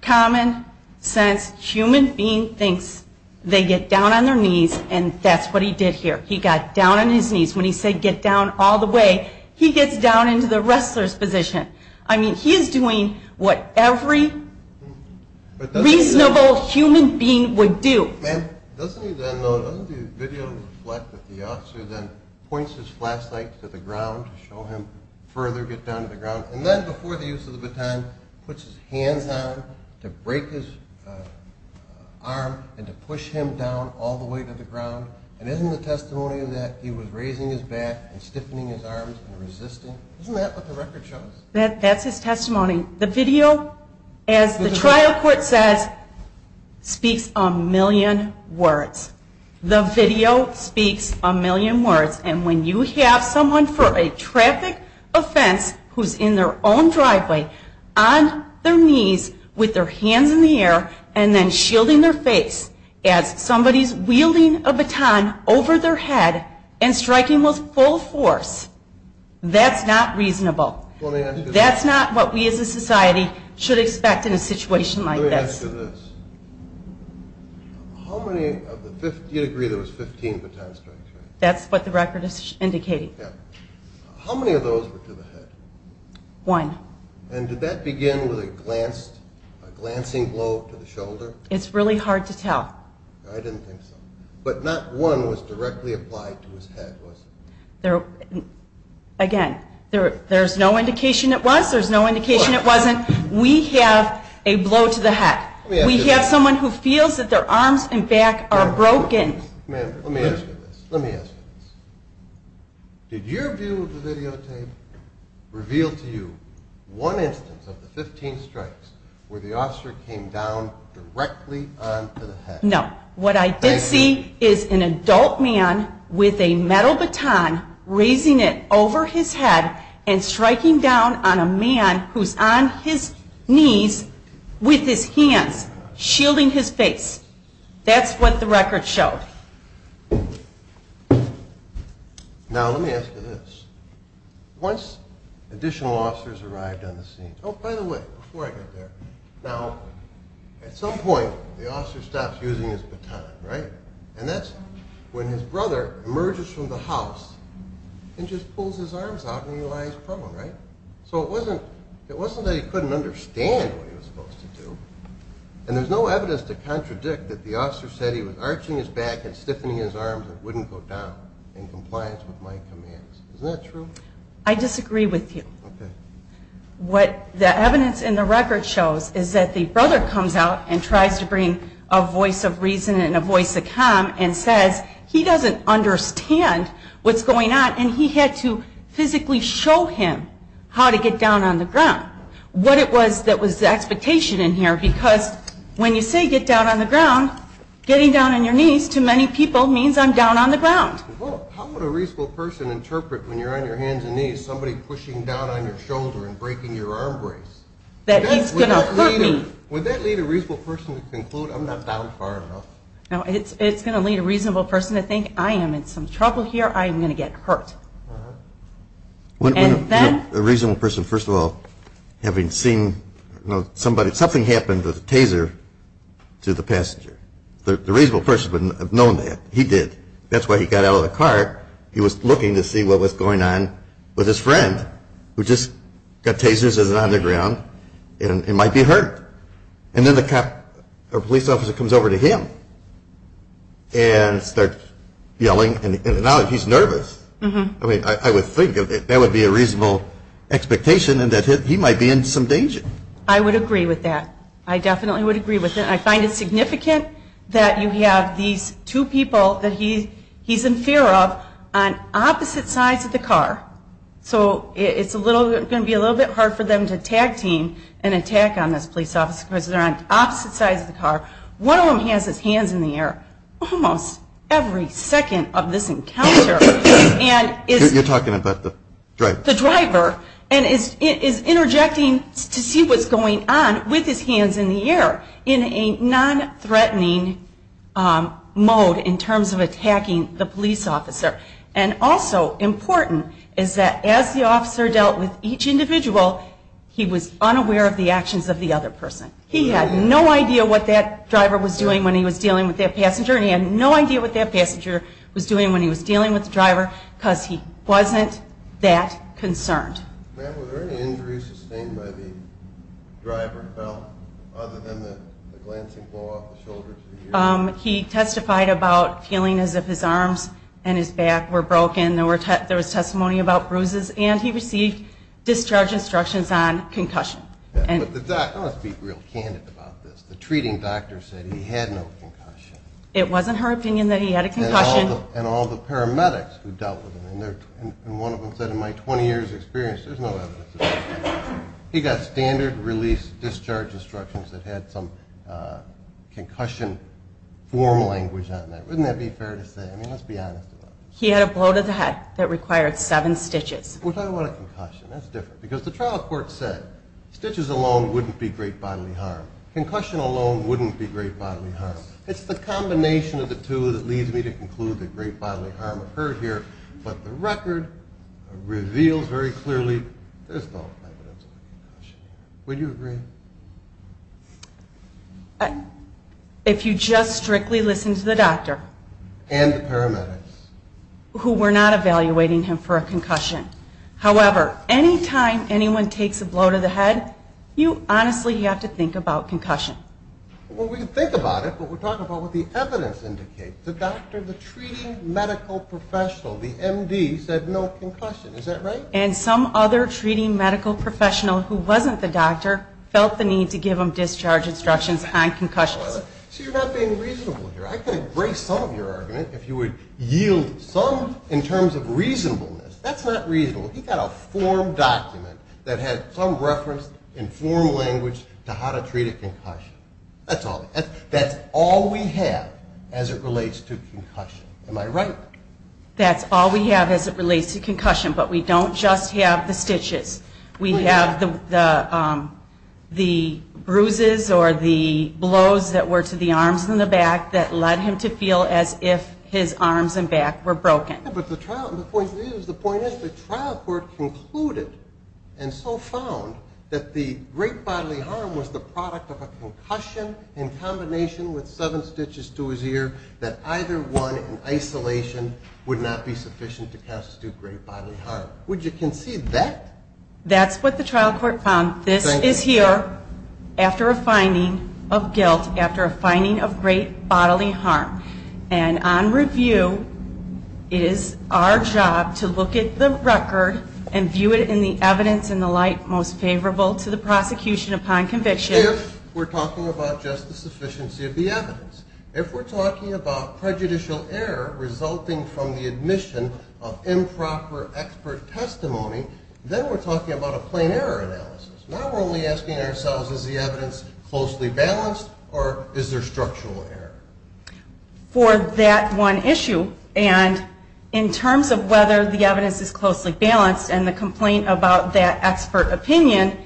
common sense human being thinks, they get down on their knees, and that's what he did here. He got down on his knees. When he said get down all the way, he gets down into the wrestler's position. I mean, he is doing what every reasonable human being would do. Ma'am, doesn't the video reflect that the officer then points his flashlight to the ground to show him further get down to the ground, and then before the use of the baton puts his hands down to break his arm and to push him down all the way to the ground, and isn't the testimony of that he was raising his back and stiffening his arms and resisting? Isn't that what the record shows? That's his testimony. The video, as the trial court says, speaks a million words. The video speaks a million words, and when you have someone for a traffic offense who's in their own driveway on their knees with their hands in the air and then shielding their face as somebody's wielding a baton over their head and striking with full force, that's not reasonable. That's not what we as a society should expect in a situation like this. Let me ask you this. How many of the 15, do you agree there was 15 baton strikes? That's what the record is indicating. Yeah. How many of those were to the head? One. And did that begin with a glancing blow to the shoulder? It's really hard to tell. I didn't think so. But not one was directly applied to his head, was it? Again, there's no indication it was. There's no indication it wasn't. We have a blow to the head. We have someone who feels that their arms and back are broken. Ma'am, let me ask you this. Let me ask you this. Did your view of the videotape reveal to you one instance of the 15 strikes where the officer came down directly onto the head? No. What I did see is an adult man with a metal baton raising it over his head and striking down on a man who's on his knees with his hands shielding his face. That's what the record showed. Now let me ask you this. Once additional officers arrived on the scene, oh, by the way, before I get there, now at some point the officer stops using his baton, right? And that's when his brother emerges from the house and just pulls his arms out and he lies prone, right? So it wasn't that he couldn't understand what he was supposed to do, and there's no evidence to contradict that the officer said he was arching his back and stiffening his arms and wouldn't go down in compliance with my commands. Isn't that true? I disagree with you. What the evidence in the record shows is that the brother comes out and tries to bring a voice of reason and a voice of calm and says he doesn't understand what's going on and he had to physically show him how to get down on the ground. What it was that was the expectation in here, because when you say get down on the ground, getting down on your knees to many people means I'm down on the ground. Well, how would a reasonable person interpret when you're on your hands and knees somebody pushing down on your shoulder and breaking your arm brace? That he's going to hurt me. Would that lead a reasonable person to conclude I'm not down far enough? No, it's going to lead a reasonable person to think I am in some trouble here, I am going to get hurt. A reasonable person, first of all, having seen somebody, something happened to the taser to the passenger. The reasonable person wouldn't have known that. He did. That's why he got out of the car. He was looking to see what was going on with his friend who just got tasers on the ground and might be hurt. And then the cop or police officer comes over to him and starts yelling and now he's nervous. I would think that would be a reasonable expectation and that he might be in some danger. I would agree with that. I definitely would agree with that. I find it significant that you have these two people that he's in fear of on opposite sides of the car. So it's going to be a little bit hard for them to tag team and attack on this police officer because they're on opposite sides of the car. One of them has his hands in the air almost every second of this encounter. You're talking about the driver. The driver. And is interjecting to see what's going on with his hands in the air in a non-threatening mode in terms of attacking the police officer. And also important is that as the officer dealt with each individual, he was unaware of the actions of the other person. He had no idea what that driver was doing when he was dealing with that passenger and he had no idea what that passenger was doing when he was dealing with the driver because he wasn't that concerned. Ma'am, were there any injuries sustained by the driver at all other than the glancing blow off the shoulder to the ear? He testified about feeling as if his arms and his back were broken. There was testimony about bruises. And he received discharge instructions on concussion. I want to be real candid about this. The treating doctor said he had no concussion. It wasn't her opinion that he had a concussion. And all the paramedics who dealt with him, and one of them said, in my 20 years' experience, there's no evidence of that. He got standard release discharge instructions that had some concussion form language on that. Wouldn't that be fair to say? I mean, let's be honest about this. He had a blow to the head that required seven stitches. We're talking about a concussion. That's different because the trial court said stitches alone wouldn't be great bodily harm. Concussion alone wouldn't be great bodily harm. It's the combination of the two that leads me to conclude that great bodily harm occurred here. But the record reveals very clearly there's no evidence of concussion. Would you agree? If you just strictly listen to the doctor. And the paramedics. Who were not evaluating him for a concussion. However, any time anyone takes a blow to the head, you honestly have to think about concussion. Well, we can think about it, but we're talking about what the evidence indicates. The doctor, the treating medical professional, the MD, said no concussion. Is that right? And some other treating medical professional who wasn't the doctor felt the need to give him discharge instructions on concussions. So you're not being reasonable here. I can embrace some of your argument if you would yield some in terms of reasonableness. That's not reasonable. He got a form document that had some reference in formal language to how to treat a concussion. That's all we have as it relates to concussion. Am I right? That's all we have as it relates to concussion. But we don't just have the stitches. We have the bruises or the blows that were to the arms and the back that led him to feel as if his arms and back were broken. But the point is the trial court concluded and so found that the great bodily harm was the product of a concussion in combination with seven stitches to his ear that either one in isolation would not be sufficient to constitute great bodily harm. Would you concede that? That's what the trial court found. This is here after a finding of guilt, after a finding of great bodily harm. And on review it is our job to look at the record and view it in the evidence in the light most favorable to the prosecution upon conviction. If we're talking about just the sufficiency of the evidence. If we're talking about prejudicial error resulting from the admission of improper expert testimony, then we're talking about a plain error analysis. Now we're only asking ourselves is the evidence closely balanced or is there structural error? For that one issue and in terms of whether the evidence is closely balanced and the complaint about that expert opinion,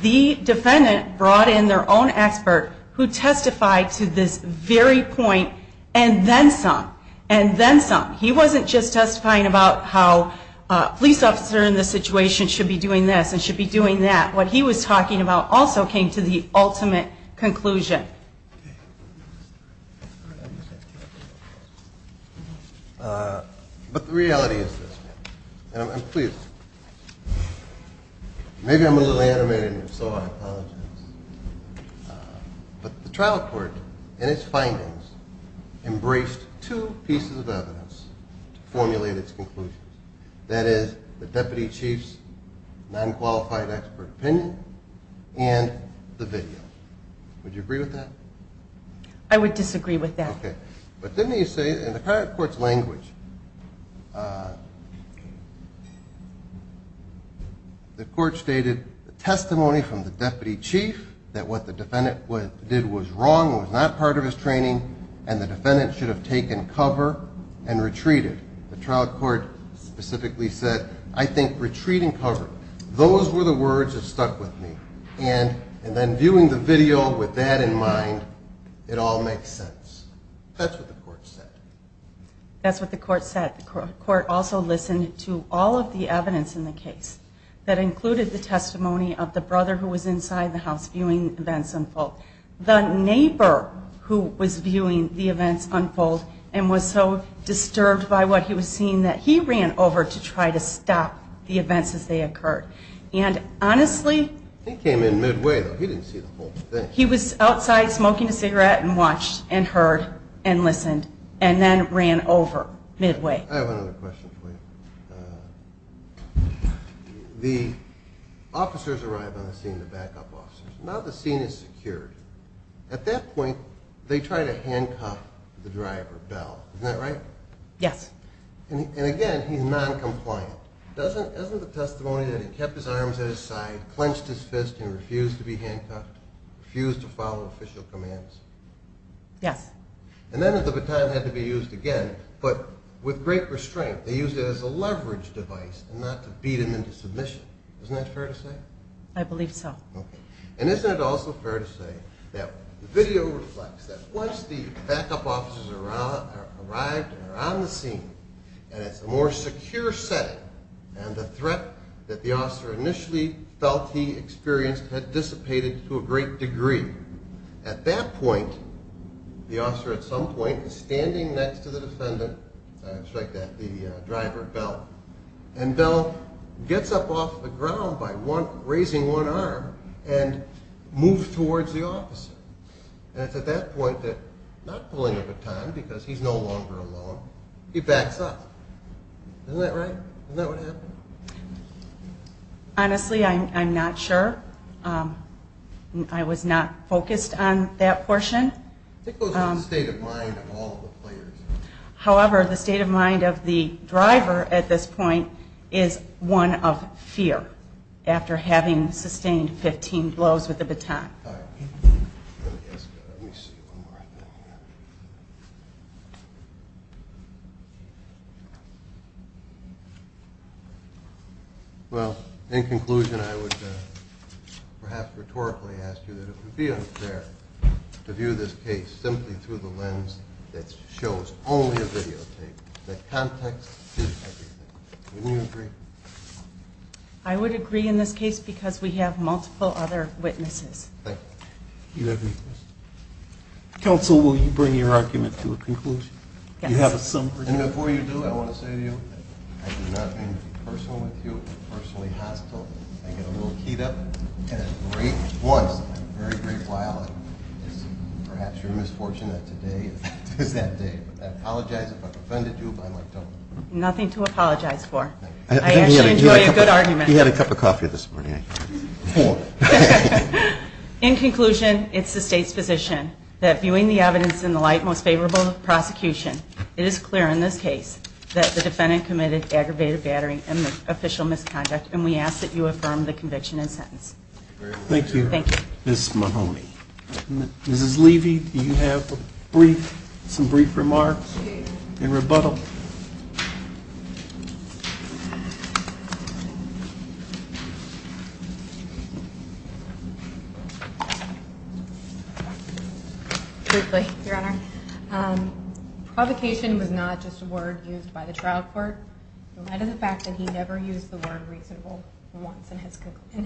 the defendant brought in their own expert who testified to this very point and then some, and then some. He wasn't just testifying about how a police officer in this situation should be doing this and should be doing that. What he was talking about also came to the ultimate conclusion. But the reality is this. And I'm pleased. Maybe I'm a little animated and so I apologize. But the trial court in its findings embraced two pieces of evidence to formulate its conclusion. That is the deputy chief's non-qualified expert opinion and the video. Would you agree with that? I would disagree with that. Okay. But then you say in the current court's language, the court stated the testimony from the deputy chief that what the defendant did was wrong, was not part of his training, and the defendant should have taken cover and retreated. The trial court specifically said, I think retreating cover. Those were the words that stuck with me. And then viewing the video with that in mind, it all makes sense. That's what the court said. That's what the court said. The court also listened to all of the evidence in the case that included the testimony of the brother who was inside the house viewing events unfold. The neighbor who was viewing the events unfold and was so disturbed by what he was seeing that he ran over to try to stop the events as they occurred. And honestly... He came in midway, though. He didn't see the whole thing. He was outside smoking a cigarette and watched and heard and listened and then ran over midway. I have another question for you. The officers arrive on the scene, the backup officers. Now the scene is secured. At that point, they try to handcuff the driver, Bell. Isn't that right? Yes. And again, he's noncompliant. Isn't the testimony that he kept his arms at his side, clenched his fist, and refused to be handcuffed, refused to follow official commands? Yes. And then the baton had to be used again, but with great restraint. They used it as a leverage device and not to beat him into submission. Isn't that fair to say? I believe so. Okay. And isn't it also fair to say that the video reflects that once the backup officers arrived and are on the scene and it's a more secure setting, and the threat that the officer initially felt he experienced had dissipated to a great degree. At that point, the officer at some point is standing next to the defendant, sorry to strike that, the driver, Bell, and Bell gets up off the ground by raising one arm and moves towards the officer. And it's at that point that not pulling the baton, because he's no longer alone, he backs up. Isn't that right? Isn't that what happened? Honestly, I'm not sure. I was not focused on that portion. I think it was the state of mind of all the players. However, the state of mind of the driver at this point is one of fear after having sustained 15 blows with the baton. Well, in conclusion, I would perhaps rhetorically ask you that it would be unfair to view this case simply through the lens that shows only a videotape, that context is everything. Wouldn't you agree? I would agree in this case because we have multiple other witnesses. Thank you. Do you have any questions? Counsel, will you bring your argument to a conclusion? Yes. And before you do, I want to say to you, I do not mean to be personal with you, personally hostile. I get a little keyed up at a great once in a very great while, and it's perhaps your misfortune that today is that day. I apologize if I've offended you, but I don't. Nothing to apologize for. I actually enjoy a good argument. He had a cup of coffee this morning. In conclusion, it's the state's position that viewing the evidence in the light aggravated battery and official misconduct, and we ask that you affirm the conviction and sentence. Thank you, Ms. Mahoney. Mrs. Levy, do you have some brief remarks in rebuttal? Briefly, Your Honor. Provocation was not just a word used by the trial court. It led to the fact that he never used the word reasonable once in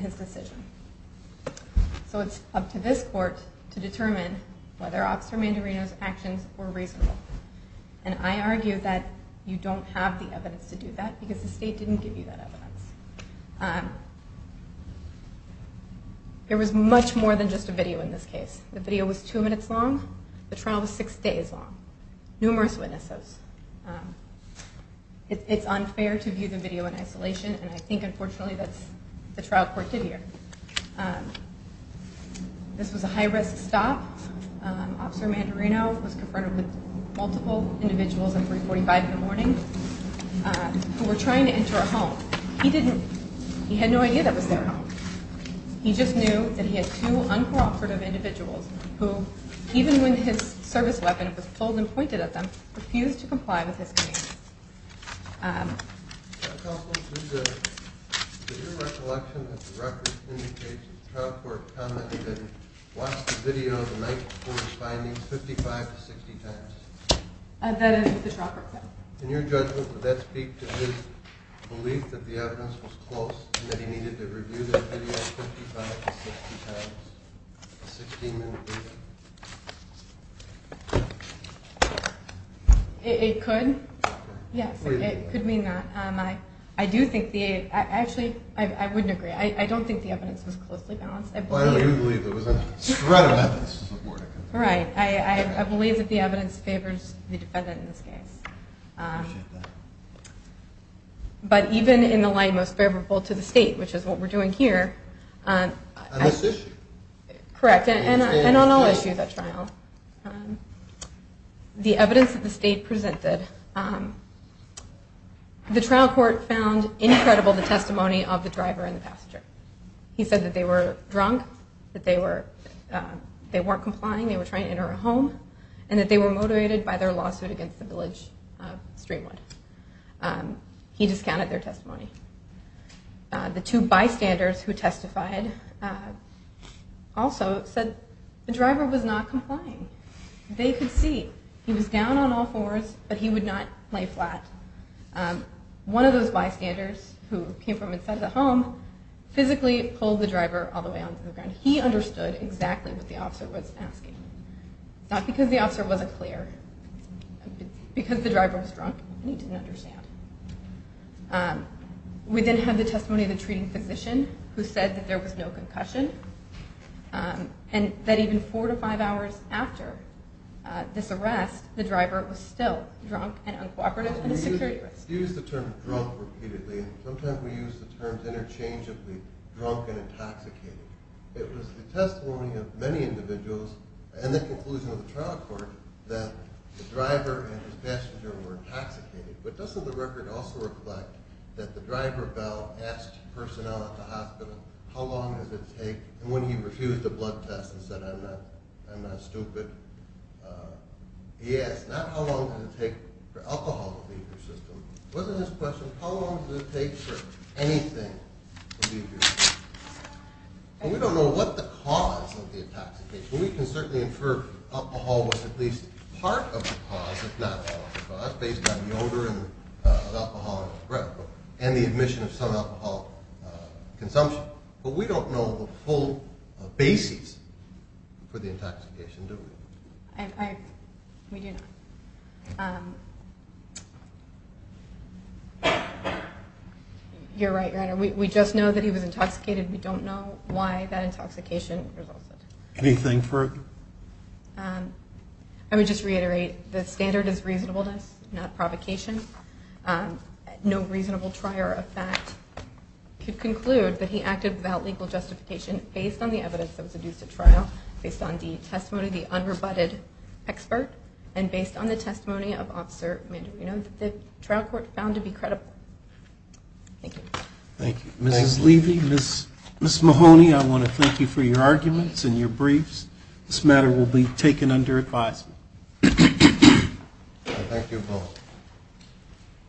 his decision. So it's up to this court to determine whether Officer Mandarino's actions were reasonable. And I argue that his actions were reasonable. You don't have the evidence to do that because the state didn't give you that evidence. There was much more than just a video in this case. The video was two minutes long. The trial was six days long. Numerous witnesses. It's unfair to view the video in isolation, and I think, unfortunately, that's what the trial court did here. This was a high-risk stop. Officer Mandarino was confronted with multiple individuals at 345 in the morning who were trying to enter a home. He had no idea that was their home. He just knew that he had two uncooperative individuals who, even when his service weapon was pulled and pointed at them, refused to comply with his command. Counsel, did your recollection of the records indicate that the trial court commented and watched the video the night before his findings 55 to 60 times? That is what the trial court said. In your judgment, would that speak to his belief that the evidence was close and that he needed to review that video 55 to 60 times? A 16-minute video? It could. Yes, it could mean that. I do think the aid actually, I wouldn't agree. I don't think the evidence was closely balanced. Well, I do believe there was a spread of evidence. Right. I believe that the evidence favors the defendant in this case. I appreciate that. But even in the light most favorable to the state, which is what we're doing here. On this issue? Correct, and on all issues at trial. The evidence that the state presented, the trial court found incredible the testimony of the driver and the passenger. He said that they were drunk, that they weren't complying, they were trying to enter a home, and that they were motivated by their lawsuit against the village of Streamwood. He discounted their testimony. The two bystanders who testified also said the driver was not complying. They could see. He was down on all fours, but he would not lay flat. One of those bystanders who came from inside the home physically pulled the driver all the way onto the ground. He understood exactly what the officer was asking, not because the officer wasn't clear, but because the driver was drunk and he didn't understand. We then have the testimony of the treating physician, who said that there was no concussion, and that even four to five hours after this arrest, the driver was still drunk and uncooperative in a security arrest. You use the term drunk repeatedly, and sometimes we use the term interchangeably, drunk and intoxicated. It was the testimony of many individuals and the conclusion of the trial court that the driver and his passenger were intoxicated. But doesn't the record also reflect that the driver, Bell, asked personnel at the hospital, how long does it take, and when he refused a blood test and said, I'm not stupid, he asked, not how long does it take for alcohol to leave your system. Wasn't his question, how long does it take for anything to leave your system? And we don't know what the cause of the intoxication, and we can certainly infer alcohol was at least part of the cause, if not all of the cause, based on the odor of alcohol and the admission of some alcohol consumption. But we don't know the full basis for the intoxication, do we? We do not. You're right, Your Honor. We just know that he was intoxicated. We don't know why that intoxication resulted. Anything further? Let me just reiterate, the standard is reasonableness, not provocation. No reasonable trier of fact could conclude that he acted without legal justification based on the evidence that was adduced at trial, based on the testimony of the unrebutted expert, and based on the testimony of Officer Mandarino that the trial court found to be credible. Thank you. Thank you. Ms. Levy, Ms. Mahoney, I want to thank you for your arguments and your briefs. This matter will be taken under advisement. I thank you both.